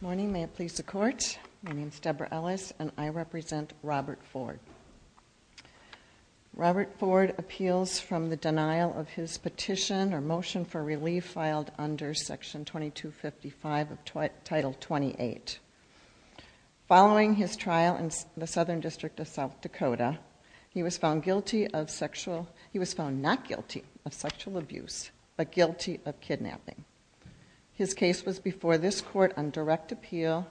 Morning, may it please the court. My name is Deborah Ellis and I represent Robert Ford Robert Ford appeals from the denial of his petition or motion for relief filed under section 22 55 of title 28 Following his trial in the Southern District of South Dakota He was found guilty of sexual. He was found not guilty of sexual abuse, but guilty of kidnapping His case was before this court on direct appeal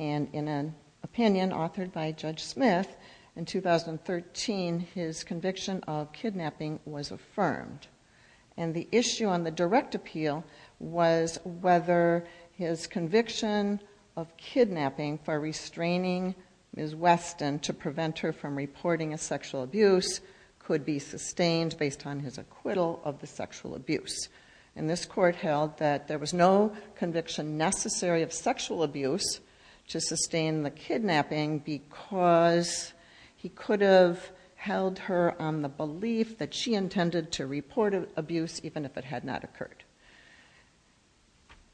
and in an opinion authored by Judge Smith in 2013 his conviction of kidnapping was affirmed and the issue on the direct appeal was whether his conviction of Kidnapping for restraining is Weston to prevent her from reporting a sexual abuse Could be sustained based on his acquittal of the sexual abuse and this court held that there was no conviction necessary of sexual abuse to sustain the kidnapping because He could have held her on the belief that she intended to report of abuse even if it had not occurred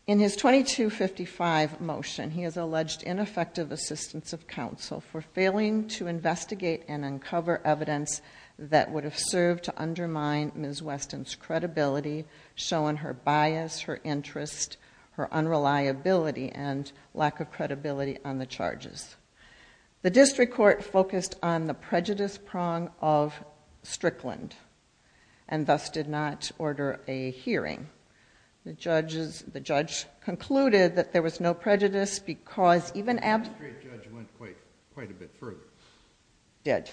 in his 2255 motion He has alleged ineffective assistance of counsel for failing to investigate and uncover evidence That would have served to undermine miss Weston's credibility Showing her bias her interest her unreliability and lack of credibility on the charges the district court focused on the prejudice prong of Strickland and Thus did not order a hearing The judges the judge concluded that there was no prejudice because even Dead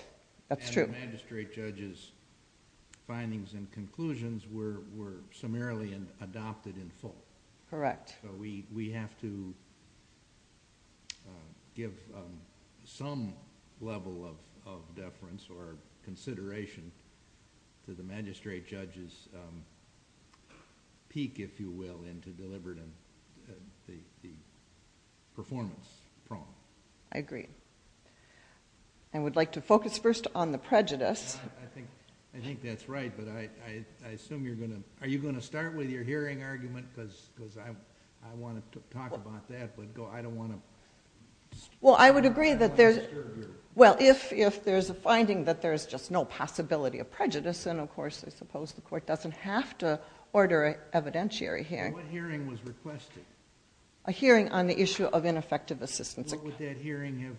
that's true magistrate judges Findings and conclusions were were summarily and adopted in full. Correct. We we have to Give some level of deference or consideration to the magistrate judges Peek if you will into deliberate The performance I agree I Would like to focus first on the prejudice I think I think that's right But I I assume you're gonna are you gonna start with your hearing argument because because I'm I want to talk about that But go I don't want to Well, I would agree that there's Well, if if there's a finding that there's just no possibility of prejudice And of course, I suppose the court doesn't have to order an evidentiary here What hearing was requested a hearing on the issue of ineffective assistance? Would have been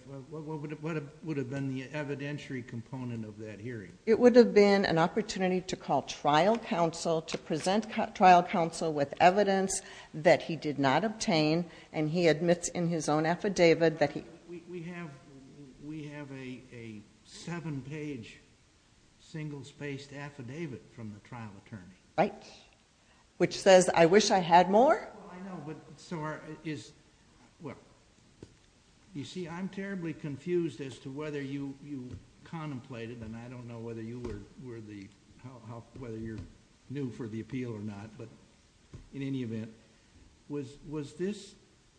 the evidentiary component of that hearing it would have been an opportunity to call trial counsel to present trial counsel with evidence that he did not obtain and he admits in his own affidavit that he we have a seven page Singles based affidavit from the trial attorney, right? Which says I wish I had more so is well You see I'm terribly confused as to whether you you contemplated and I don't know whether you were were the Whether you're new for the appeal or not, but in any event Was was this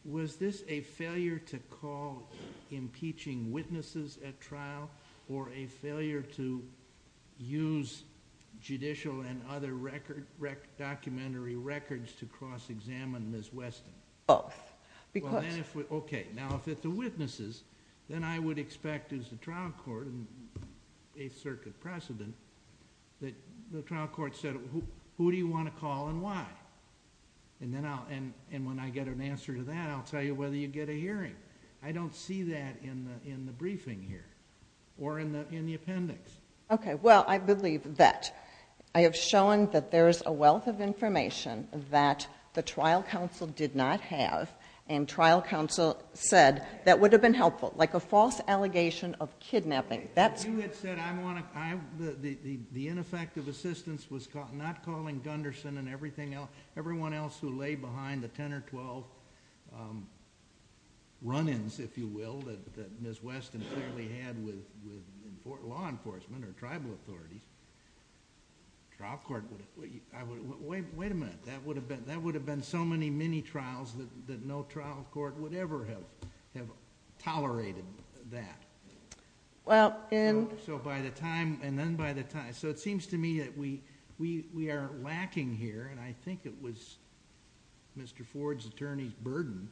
was this a failure to call? Impeaching witnesses at trial or a failure to use judicial and other record Documentary records to cross-examine this West. Oh Because okay now if it's the witnesses then I would expect is the trial court and a circuit precedent That the trial court said who do you want to call and why? And then I'll and and when I get an answer to that, I'll tell you whether you get a hearing I don't see that in the in the briefing here or in the in the appendix. Okay Well, I believe that I have shown that there's a wealth of information That the trial counsel did not have and trial counsel said that would have been helpful like a false allegation of kidnapping that's The ineffective assistance was caught not calling Gunderson and everything else everyone else who lay behind the 10 or 12 Run-ins, if you will that miss Weston clearly had with law enforcement or tribal authorities trial court Wait a minute. That would have been that would have been so many many trials that no trial court would ever have have tolerated that Well in so by the time and then by the time so it seems to me that we we we are lacking here and I think it was Mr. Ford's attorney's burden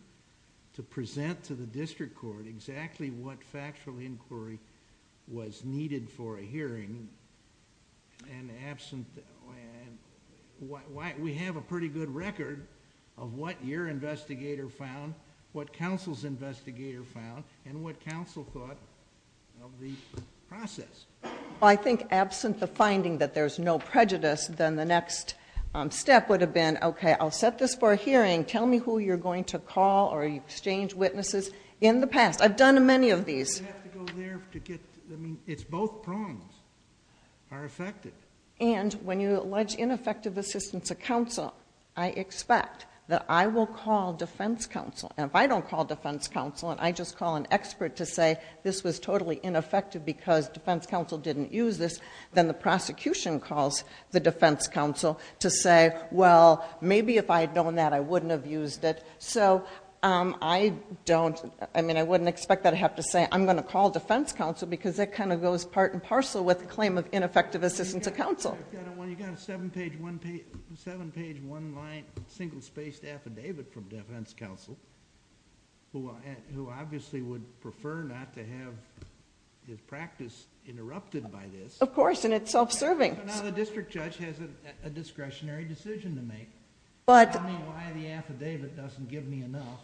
to present to the district court exactly what factual inquiry was needed for a hearing and absent What why we have a pretty good record of what your investigator found what counsel's investigator found and what counsel thought of the Process I think absent the finding that there's no prejudice then the next Step would have been okay. I'll set this for a hearing Tell me who you're going to call or you exchange witnesses in the past. I've done many of these It's both prongs Are affected and when you allege ineffective assistance of counsel? I expect that I will call defense counsel and if I don't call defense counsel And I just call an expert to say this was totally ineffective because defense counsel didn't use this then the prosecution Calls the defense counsel to say well, maybe if I had known that I wouldn't have used it So I don't I mean I wouldn't expect that I have to say I'm gonna call defense counsel because that kind of goes part and parcel with the claim of ineffective assistance of counsel Seven page one line single spaced affidavit from defense counsel Who I who obviously would prefer not to have? His practice interrupted by this of course and it's self-serving the district judge has a discretionary decision to make But the affidavit doesn't give me enough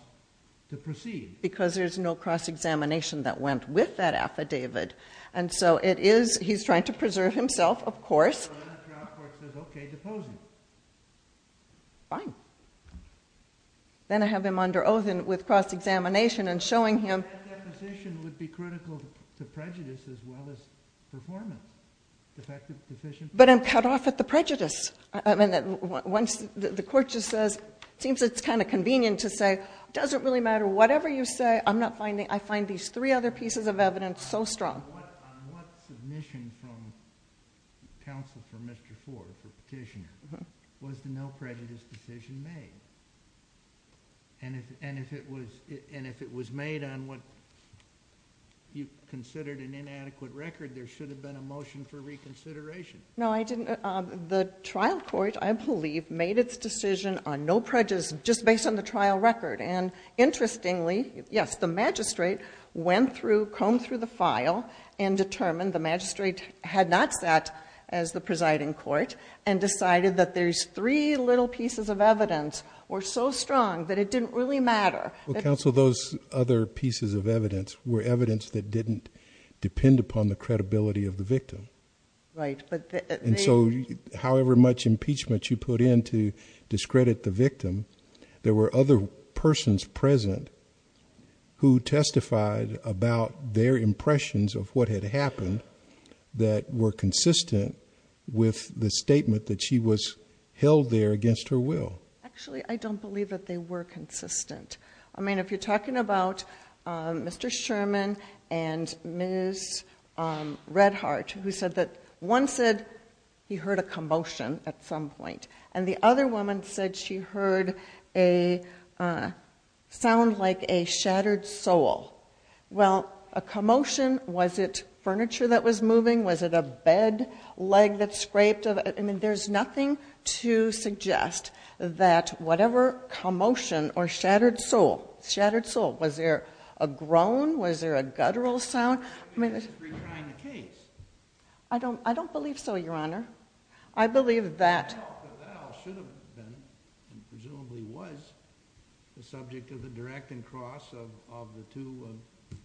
to proceed because there's no cross-examination That went with that affidavit. And so it is he's trying to preserve himself, of course Fine then I have him under oath and with cross-examination and showing him As well as performance But I'm cut off at the prejudice I mean that once the court just says seems it's kind of convenient to say doesn't really matter whatever you say I'm not finding I find these three other pieces of evidence so strong And if it was made on what You considered an inadequate record there should have been a motion for reconsideration No, I didn't the trial court. I believe made its decision on no prejudice just based on the trial record and interestingly, yes, the magistrate went through combed through the file and determined the magistrate had not sat as the presiding court and Decided that there's three little pieces of evidence were so strong that it didn't really matter Counsel those other pieces of evidence were evidence that didn't depend upon the credibility of the victim, right? And so however much impeachment you put in to discredit the victim. There were other persons present Who testified about their impressions of what had happened that were consistent? With the statement that she was held there against her will actually I don't believe that they were consistent I mean if you're talking about Mr. Sherman and miss Redhart who said that one said he heard a commotion at some point and the other woman said she heard a Sound like a shattered soul Well a commotion was it furniture that was moving was it a bed leg that scraped of it I mean, there's nothing to suggest That whatever commotion or shattered soul shattered soul was there a groan was there a guttural sound I mean I don't I don't believe so. Your honor. I believe that The subject of the direct and cross of the two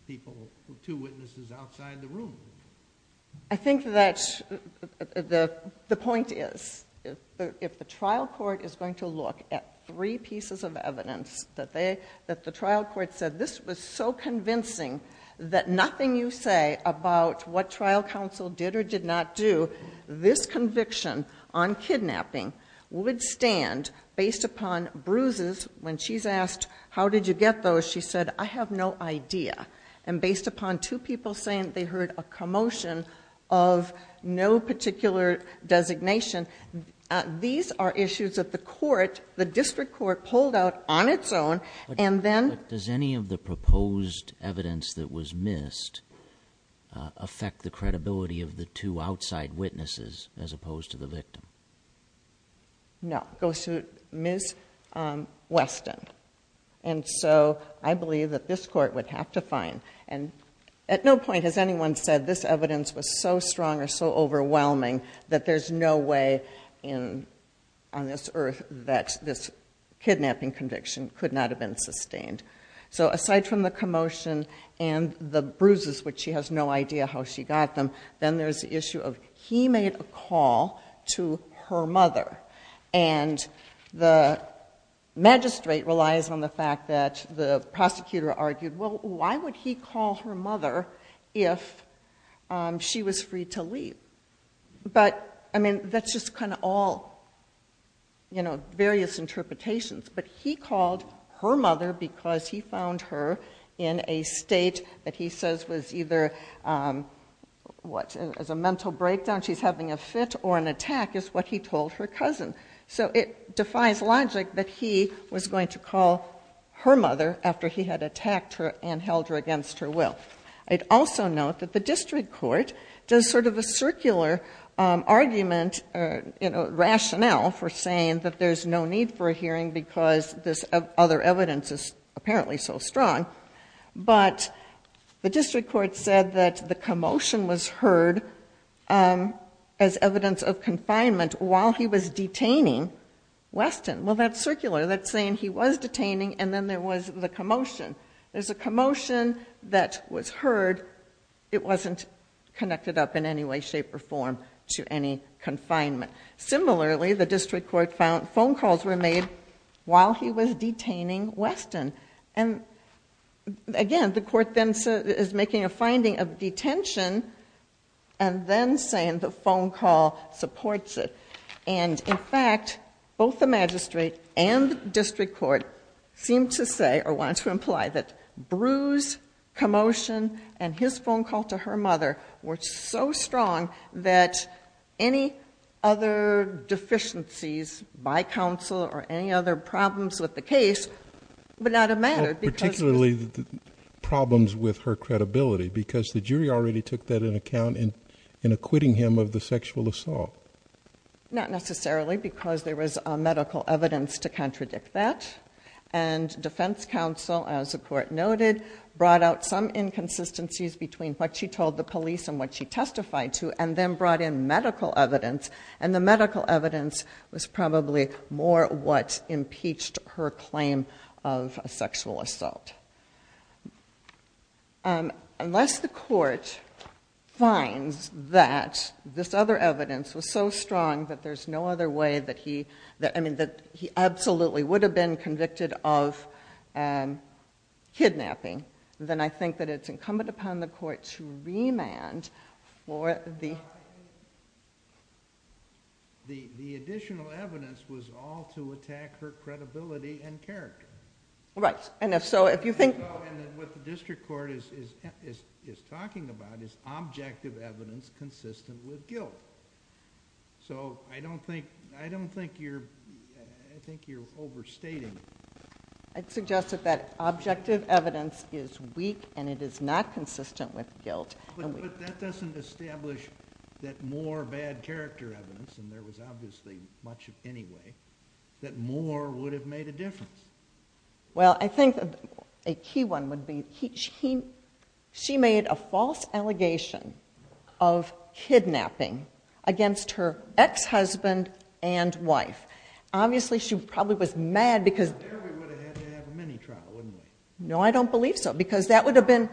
people with two witnesses outside the room I think that The the point is if the trial court is going to look at three pieces of evidence that they that the trial court said this was so Convincing that nothing you say about what trial counsel did or did not do this conviction on Kidnapping would stand based upon bruises when she's asked. How did you get those? she said I have no idea and based upon two people saying they heard a commotion of no particular designation These are issues of the court the district court pulled out on its own and then does any of the proposed evidence that was missed Affect the credibility of the two outside witnesses as opposed to the victim No goes to miss Weston and so I believe that this court would have to find and At no point has anyone said this evidence was so strong or so overwhelming that there's no way in on this earth that this Kidnapping conviction could not have been sustained So aside from the commotion and the bruises which she has no idea how she got them then there's the issue of he made a call to her mother and the Magistrate relies on the fact that the prosecutor argued. Well, why would he call her mother if She was free to leave But I mean, that's just kind of all You know various interpretations, but he called her mother because he found her in a state that he says was either What as a mental breakdown she's having a fit or an attack is what he told her cousin So it defies logic that he was going to call Her mother after he had attacked her and held her against her will I'd also note that the district court does sort of a circular argument in a Rationale for saying that there's no need for a hearing because this other evidence is apparently so strong but The district court said that the commotion was heard As evidence of confinement while he was detaining Weston well, that's circular. That's saying he was detaining and then there was the commotion There's a commotion that was heard. It wasn't Connected up in any way shape or form to any confinement similarly, the district court found phone calls were made while he was detaining Weston and again, the court then is making a finding of detention and Then saying the phone call supports it And in fact both the magistrate and the district court seemed to say or want to imply that bruise Commotion and his phone call to her mother were so strong that any other Deficiencies by counsel or any other problems with the case, but not a matter particularly Problems with her credibility because the jury already took that in account in in acquitting him of the sexual assault not necessarily because there was a medical evidence to contradict that and defense counsel as the court noted brought out some inconsistencies between what she told the police and what she testified to and then brought in medical evidence and the medical evidence was probably more what impeached her claim of sexual assault Unless the court finds that This other evidence was so strong that there's no other way that he that I mean that he absolutely would have been convicted of Kidnapping then I think that it's incumbent upon the court to remand or the The the additional evidence was all to attack her credibility and character Right, and if so, if you think what the district court is is is talking about is objective evidence consistent with guilt So I don't think I don't think you're I think you're overstating It suggested that objective evidence is weak and it is not consistent with guilt That more bad character evidence and there was obviously much of anyway that more would have made a difference well, I think a key one would be he she made a false allegation of Kidnapping against her ex-husband and wife. Obviously, she probably was mad because No, I don't believe so because that would have been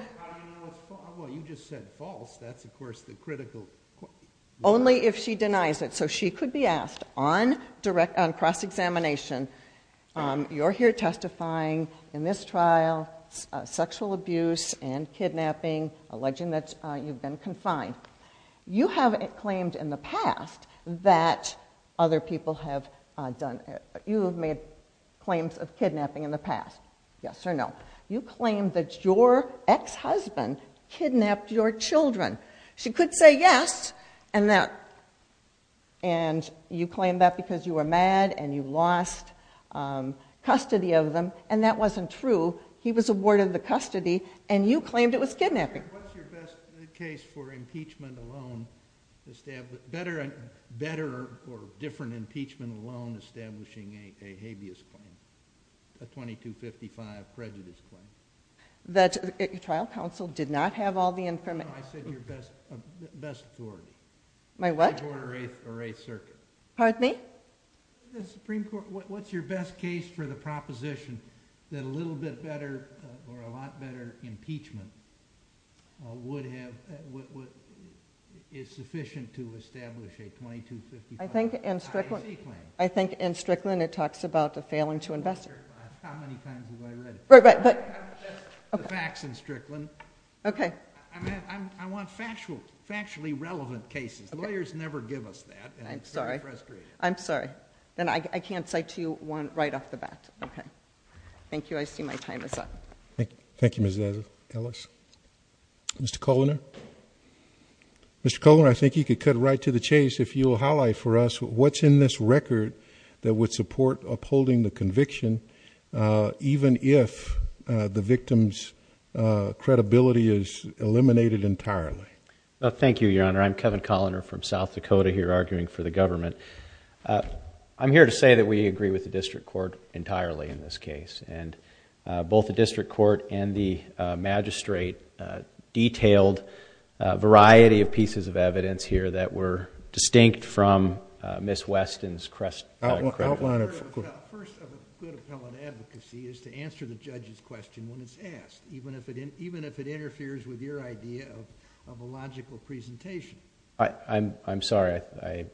Only if she denies it so she could be asked on direct on cross-examination You're here testifying in this trial sexual abuse and Kidnapping alleging that you've been confined You haven't claimed in the past that other people have done it You have made claims of kidnapping in the past. Yes or no? You claim that your ex-husband kidnapped your children. She could say yes, and that and You claim that because you were mad and you lost Custody of them and that wasn't true. He was awarded the custody and you claimed it was kidnapping Better and better or different impeachment alone establishing a habeas claim 2255 prejudice claim that your trial counsel did not have all the infirmity My what? Pardon me What's your best case for the proposition that a little bit better or a lot better impeachment would have Is sufficient to establish a 2255? I think in Strickland. I think in Strickland. It talks about the failing to invest Right, but facts in Strickland Okay Factually relevant cases lawyers never give us that I'm sorry, I'm sorry, then I can't cite to you one right off the bat Okay. Thank you. I see my time is up. Thank you. Thank you. Mrs. Ellis Mr. Kohler Mr. Kohler, I think you could cut right to the chase if you will highlight for us What's in this record that would support upholding the conviction? even if the victims Credibility is eliminated entirely. Thank you. Your honor. I'm Kevin Colliner from South Dakota here arguing for the government I'm here to say that we agree with the district court entirely in this case and both the district court and the magistrate detailed variety of pieces of evidence here that were distinct from Miss Weston's crest Even if it in even if it interferes with your idea of a logical presentation, I I'm I'm sorry. I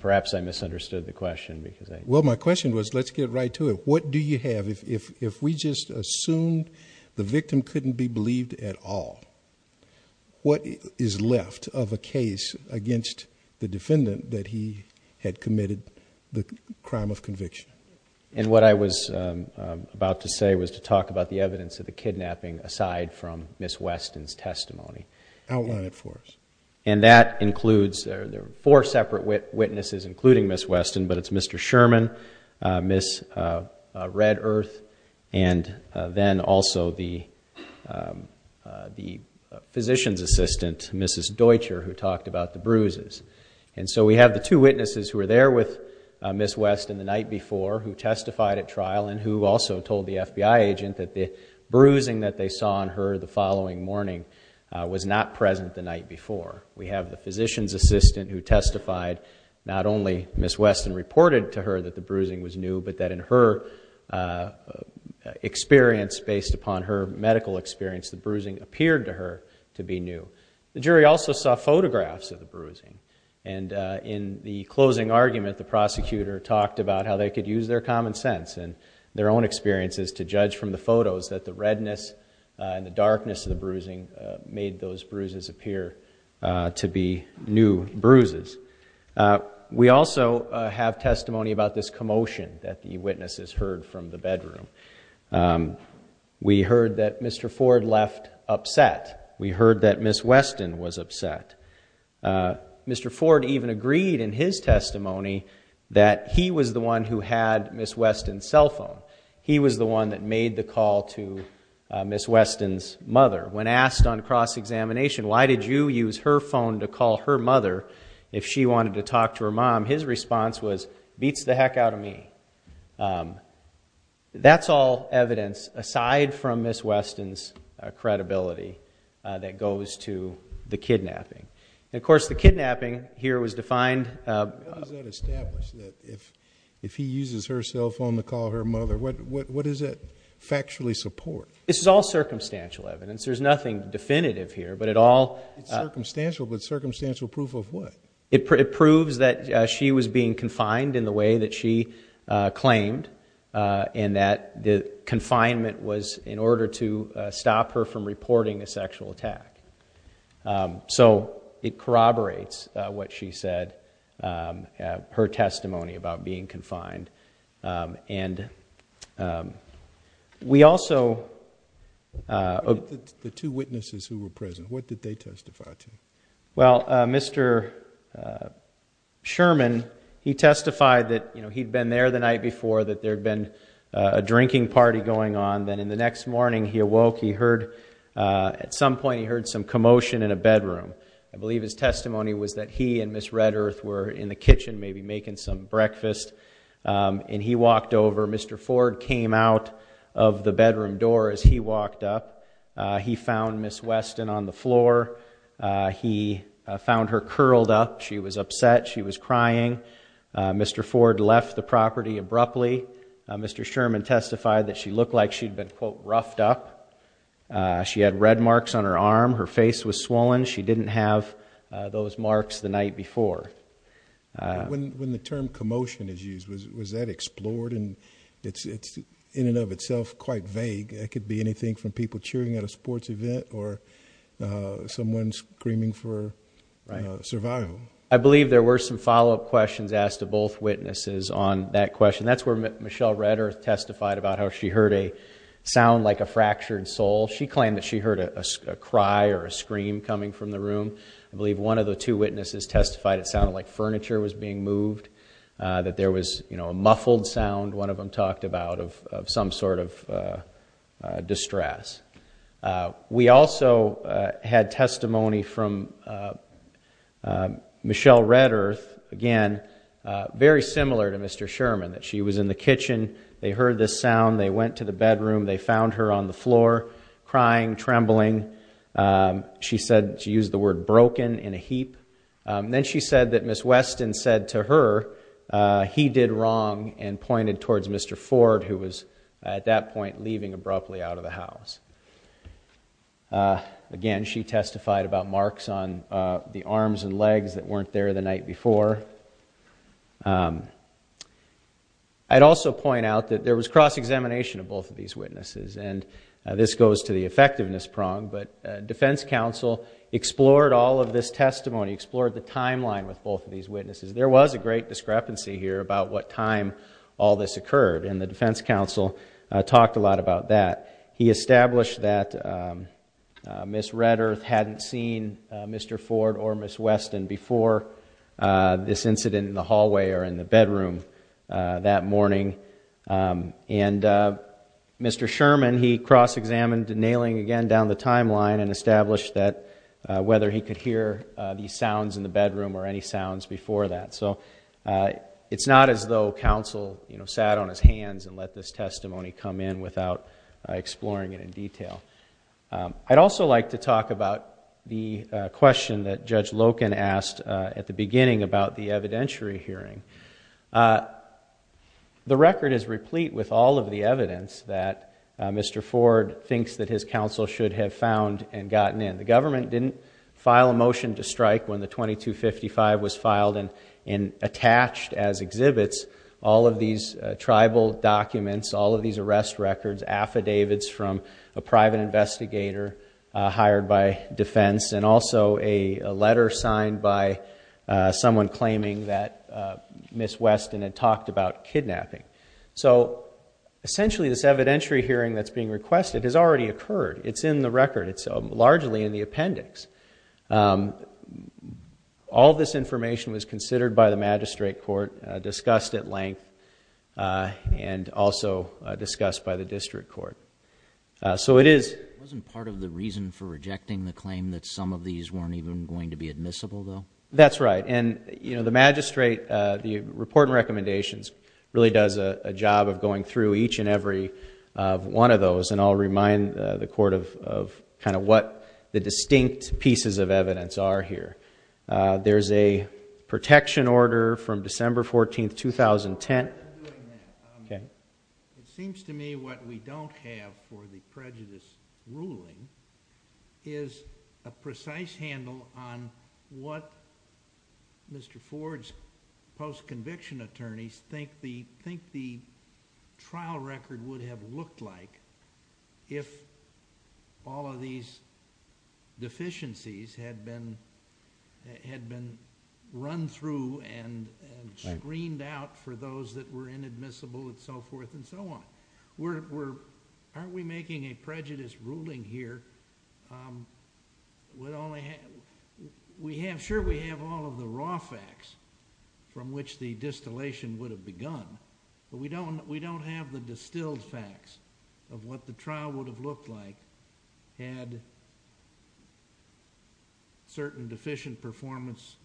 Perhaps I misunderstood the question because I well my question was let's get right to it What do you have if if we just assumed the victim couldn't be believed at all? What is left of a case against the defendant that he had committed the crime of conviction? and what I was About to say was to talk about the evidence of the kidnapping aside from miss Weston's testimony Outline it for us and that includes there are four separate witnesses including miss Weston, but it's mr. Sherman miss red earth and then also the The Physician's assistant mrs Deutscher who talked about the bruises and so we have the two witnesses who are there with miss Weston the night before who testified at trial And who also told the FBI agent that the bruising that they saw on her the following morning? Was not present the night before we have the physician's assistant who testified not only miss Weston Reported to her that the bruising was new but that in her Experience based upon her medical experience the bruising appeared to her to be new the jury also saw photographs of the bruising and in the closing argument the prosecutor talked about how they could use their common sense and Their own experiences to judge from the photos that the redness and the darkness of the bruising made those bruises appear to be new bruises We also have testimony about this commotion that the witnesses heard from the bedroom We heard that mr. Ford left upset. We heard that miss Weston was upset Mr. Ford even agreed in his testimony that he was the one who had miss Weston cell phone He was the one that made the call to Miss Weston's mother when asked on cross-examination Why did you use her phone to call her mother if she wanted to talk to her mom? His response was beats the heck out of me That's all evidence aside from miss Weston's Credibility that goes to the kidnapping. Of course the kidnapping here was defined That if if he uses her cell phone to call her mother what what is it factually support this is all circumstantial evidence There's nothing definitive here, but it all Circumstantial but circumstantial proof of what it proves that she was being confined in the way that she claimed And that the confinement was in order to stop her from reporting a sexual attack So it corroborates what she said her testimony about being confined and We also The two witnesses who were present what did they testify to well, mr. Sherman he testified that you know He'd been there the night before that there had been a drinking party going on then in the next morning. He awoke he heard At some point he heard some commotion in a bedroom I believe his testimony was that he and miss Red Earth were in the kitchen maybe making some breakfast And he walked over. Mr. Ford came out of the bedroom door as he walked up. He found miss Weston on the floor He found her curled up. She was upset. She was crying Mr. Ford left the property abruptly. Mr. Sherman testified that she looked like she'd been quote roughed up She had red marks on her arm her face was swollen she didn't have those marks the night before When the term commotion is used was that explored and it's it's in and of itself quite vague it could be anything from people cheering at a sports event or someone screaming for Survival, I believe there were some follow-up questions asked to both witnesses on that question That's where Michelle Red Earth testified about how she heard a sound like a fractured soul She claimed that she heard a cry or a scream coming from the room I believe one of the two witnesses testified. It sounded like furniture was being moved That there was you know, a muffled sound one of them talked about of some sort of distress we also had testimony from Michelle Red Earth again Very similar to mr. Sherman that she was in the kitchen. They heard this sound they went to the bedroom They found her on the floor crying trembling She said she used the word broken in a heap. Then. She said that miss Weston said to her He did wrong and pointed towards. Mr. Ford who was at that point leaving abruptly out of the house Again she testified about marks on the arms and legs that weren't there the night before I Had also point out that there was cross-examination of both of these witnesses and this goes to the effectiveness prong but defense counsel Explored all of this testimony explored the timeline with both of these witnesses There was a great discrepancy here about what time all this occurred and the defense counsel talked a lot about that He established that Miss Red Earth hadn't seen mr. Ford or miss Weston before This incident in the hallway or in the bedroom that morning and Mr. Sherman he cross-examined nailing again down the timeline and established that Whether he could hear these sounds in the bedroom or any sounds before that. So It's not as though counsel, you know sat on his hands and let this testimony come in without Exploring it in detail I'd also like to talk about the question that judge Loken asked at the beginning about the evidentiary hearing The record is replete with all of the evidence that Mr. Ford thinks that his counsel should have found and gotten in the government didn't file a motion to strike when the 2255 was filed and in Attached as exhibits all of these tribal documents all of these arrest records Affidavits from a private investigator hired by defense and also a letter signed by someone claiming that Miss Weston had talked about kidnapping. So Essentially this evidentiary hearing that's being requested has already occurred. It's in the record. It's so largely in the appendix All this information was considered by the magistrate court discussed at length And also discussed by the district court So it is wasn't part of the reason for rejecting the claim that some of these weren't even going to be admissible though That's right And you know the magistrate the report and recommendations really does a job of going through each and every One of those and I'll remind the court of kind of what the distinct pieces of evidence are here there's a protection order from December 14th 2010 Okay, it seems to me what we don't have for the prejudice ruling is a precise handle on what Mr. Ford's post-conviction attorneys think the think the trial record would have looked like if all of these Deficiencies had been had been run through and Screened out for those that were inadmissible and so forth and so on. We're aren't we making a prejudice ruling here? Would only have We have sure we have all of the raw facts From which the distillation would have begun, but we don't we don't have the distilled facts of what the trial would have looked like had Certain deficient performance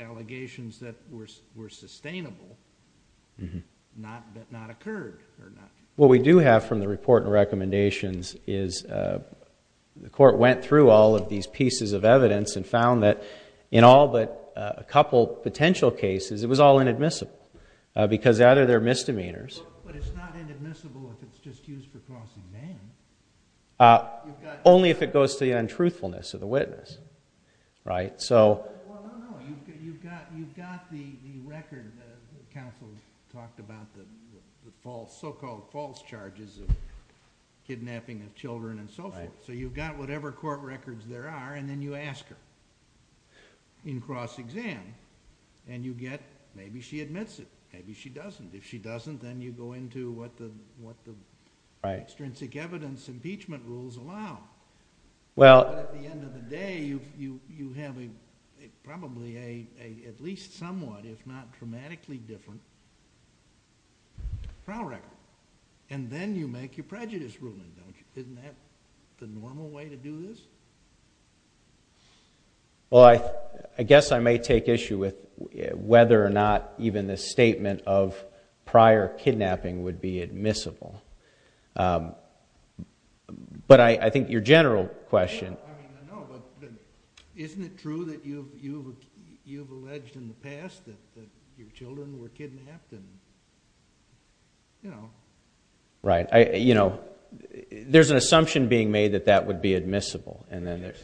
Allegations that were sustainable What we do have from the report and recommendations is The court went through all of these pieces of evidence and found that in all but a couple potential cases It was all inadmissible Because out of their misdemeanors Only if it goes to the untruthfulness of the witness, right so You've got you've got the record counsel talked about the false so-called false charges of Kidnapping of children and so forth. So you've got whatever court records there are and then you ask her In cross-exam and you get maybe she admits it Maybe she doesn't if she doesn't then you go into what the what the right string sick evidence impeachment rules allow well At the end of the day you you you have a probably a at least somewhat if not dramatically different Trial record and then you make your prejudice ruling don't you isn't that the normal way to do this? Well, I I guess I may take issue with whether or not even this statement of prior kidnapping would be admissible But I I think your general question Right, I you know, there's an assumption being made that that would be admissible and then It's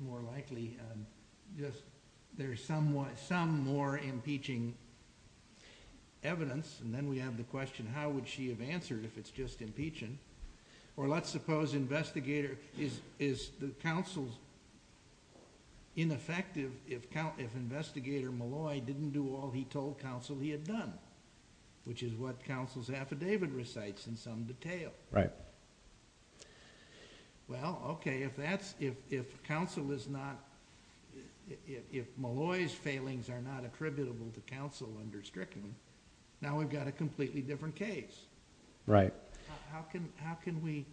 more likely just there's somewhat some more impeaching Evidence and then we have the question. How would she have answered if it's just impeaching or let's suppose investigator is is the counsel's Ineffective if count if investigator Malloy didn't do all he told counsel he had done Which is what counsel's affidavit recites in some detail, right? Well, okay if that's if counsel is not If Malloy's failings are not attributable to counsel under Strickland now, we've got a completely different case Right. How can how can we?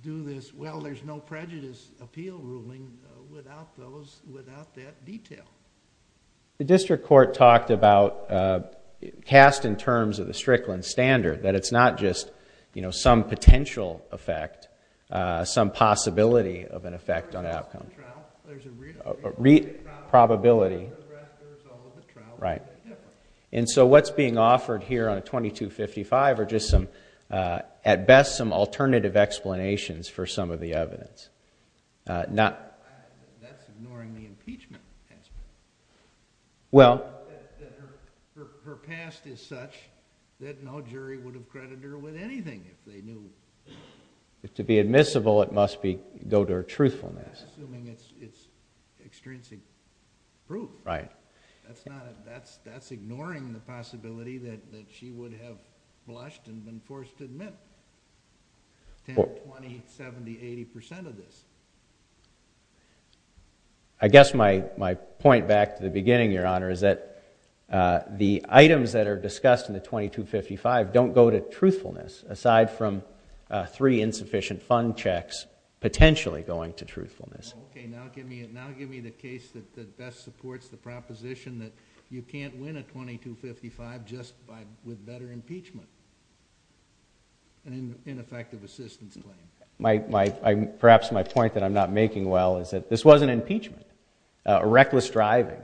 Do this? Well, there's no prejudice appeal ruling without those without that detail the district court talked about Cast in terms of the Strickland standard that it's not just you know, some potential effect Some possibility of an effect on outcome read probability right and so what's being offered here on a 2255 or just some at best some alternative explanations for some of the evidence not That's ignoring the impeachment Well Her past is such that no jury would have credited her with anything if they knew If to be admissible, it must be go to her truthfulness Prove right that's not that's that's ignoring the possibility that that she would have blushed and been forced to admit 70 80 percent of this I guess my my point back to the beginning your honor is that The items that are discussed in the 2255 don't go to truthfulness aside from three insufficient fund checks Potentially going to truthfulness Now give me the case that best supports the proposition that you can't win a 2255 just by with better impeachment And ineffective assistance claim my my perhaps my point that I'm not making. Well, is that this was an impeachment a reckless driving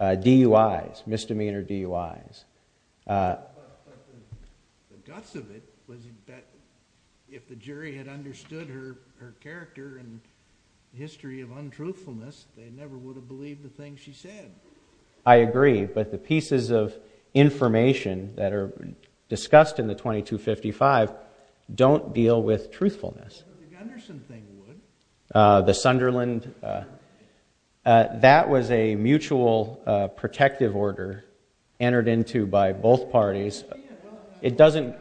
DUI's misdemeanor DUI's The guts of it was if the jury had understood her her character and History of untruthfulness. They never would have believed the thing. She said I agree, but the pieces of information that are discussed in the 2255 Don't deal with truthfulness The Sunderland That was a mutual Protective order entered into by both parties. It doesn't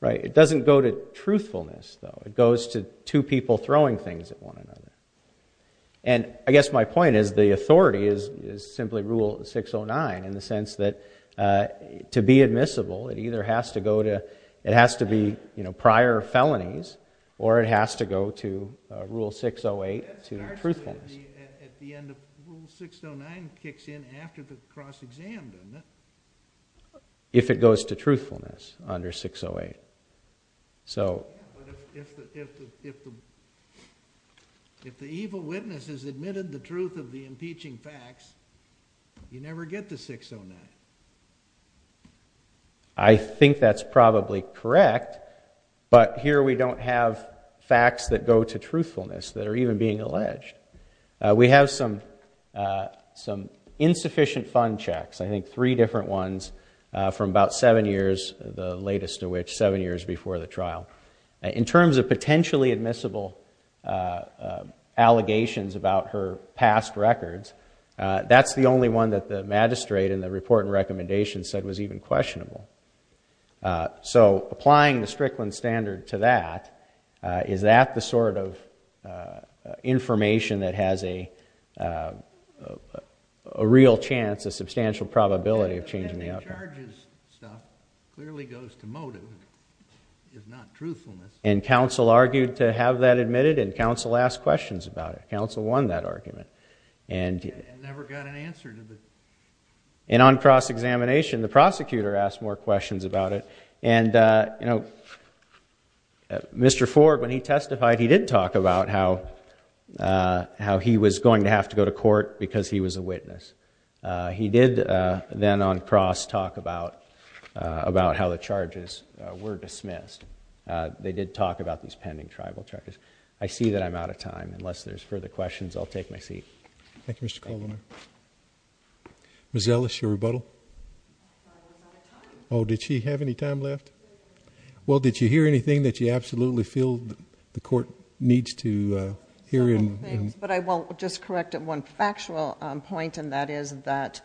Right, it doesn't go to truthfulness though it goes to two people throwing things at one another and I guess my point is the authority is is simply rule 609 in the sense that To be admissible. It either has to go to it has to be, you know prior felonies or it has to go to rule 608 to 609 kicks in after the cross-exam If it goes to truthfulness under 608 so If the evil witness has admitted the truth of the impeaching facts you never get to 609 I Think that's probably correct But here we don't have facts that go to truthfulness that are even being alleged We have some some insufficient fund checks I think three different ones from about seven years the latest to which seven years before the trial in terms of potentially admissible Allegations about her past records. That's the only one that the magistrate in the report and recommendations said was even questionable So applying the Strickland standard to that Is that the sort of? Information that has a Real chance a substantial probability of changing the outcome And counsel argued to have that admitted and counsel asked questions about it counsel won that argument and And on cross-examination the prosecutor asked more questions about it and you know Mr. Ford when he testified he did talk about how How he was going to have to go to court because he was a witness He did then on cross talk about About how the charges were dismissed They did talk about these pending tribal charges. I see that I'm out of time unless there's further questions. I'll take my seat Thank You, mr. Coleman Miss Ellis your rebuttal. Oh Did she have any time left Well, did you hear anything that you absolutely feel the court needs to hear him but I won't just correct at one factual point and that is that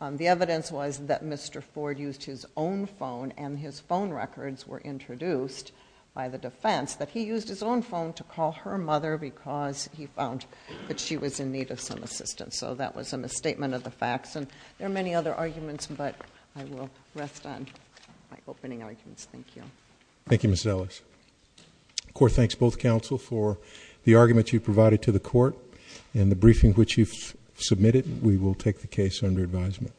The evidence was that mr Ford used his own phone and his phone records were Introduced by the defense that he used his own phone to call her mother because he found that she was in need of some assistance So that was a misstatement of the facts and there are many other arguments, but I will rest on Opening arguments. Thank you. Thank you. Miss Ellis Court, thanks both counsel for the argument you provided to the court and the briefing which you've submitted We will take the case under advisement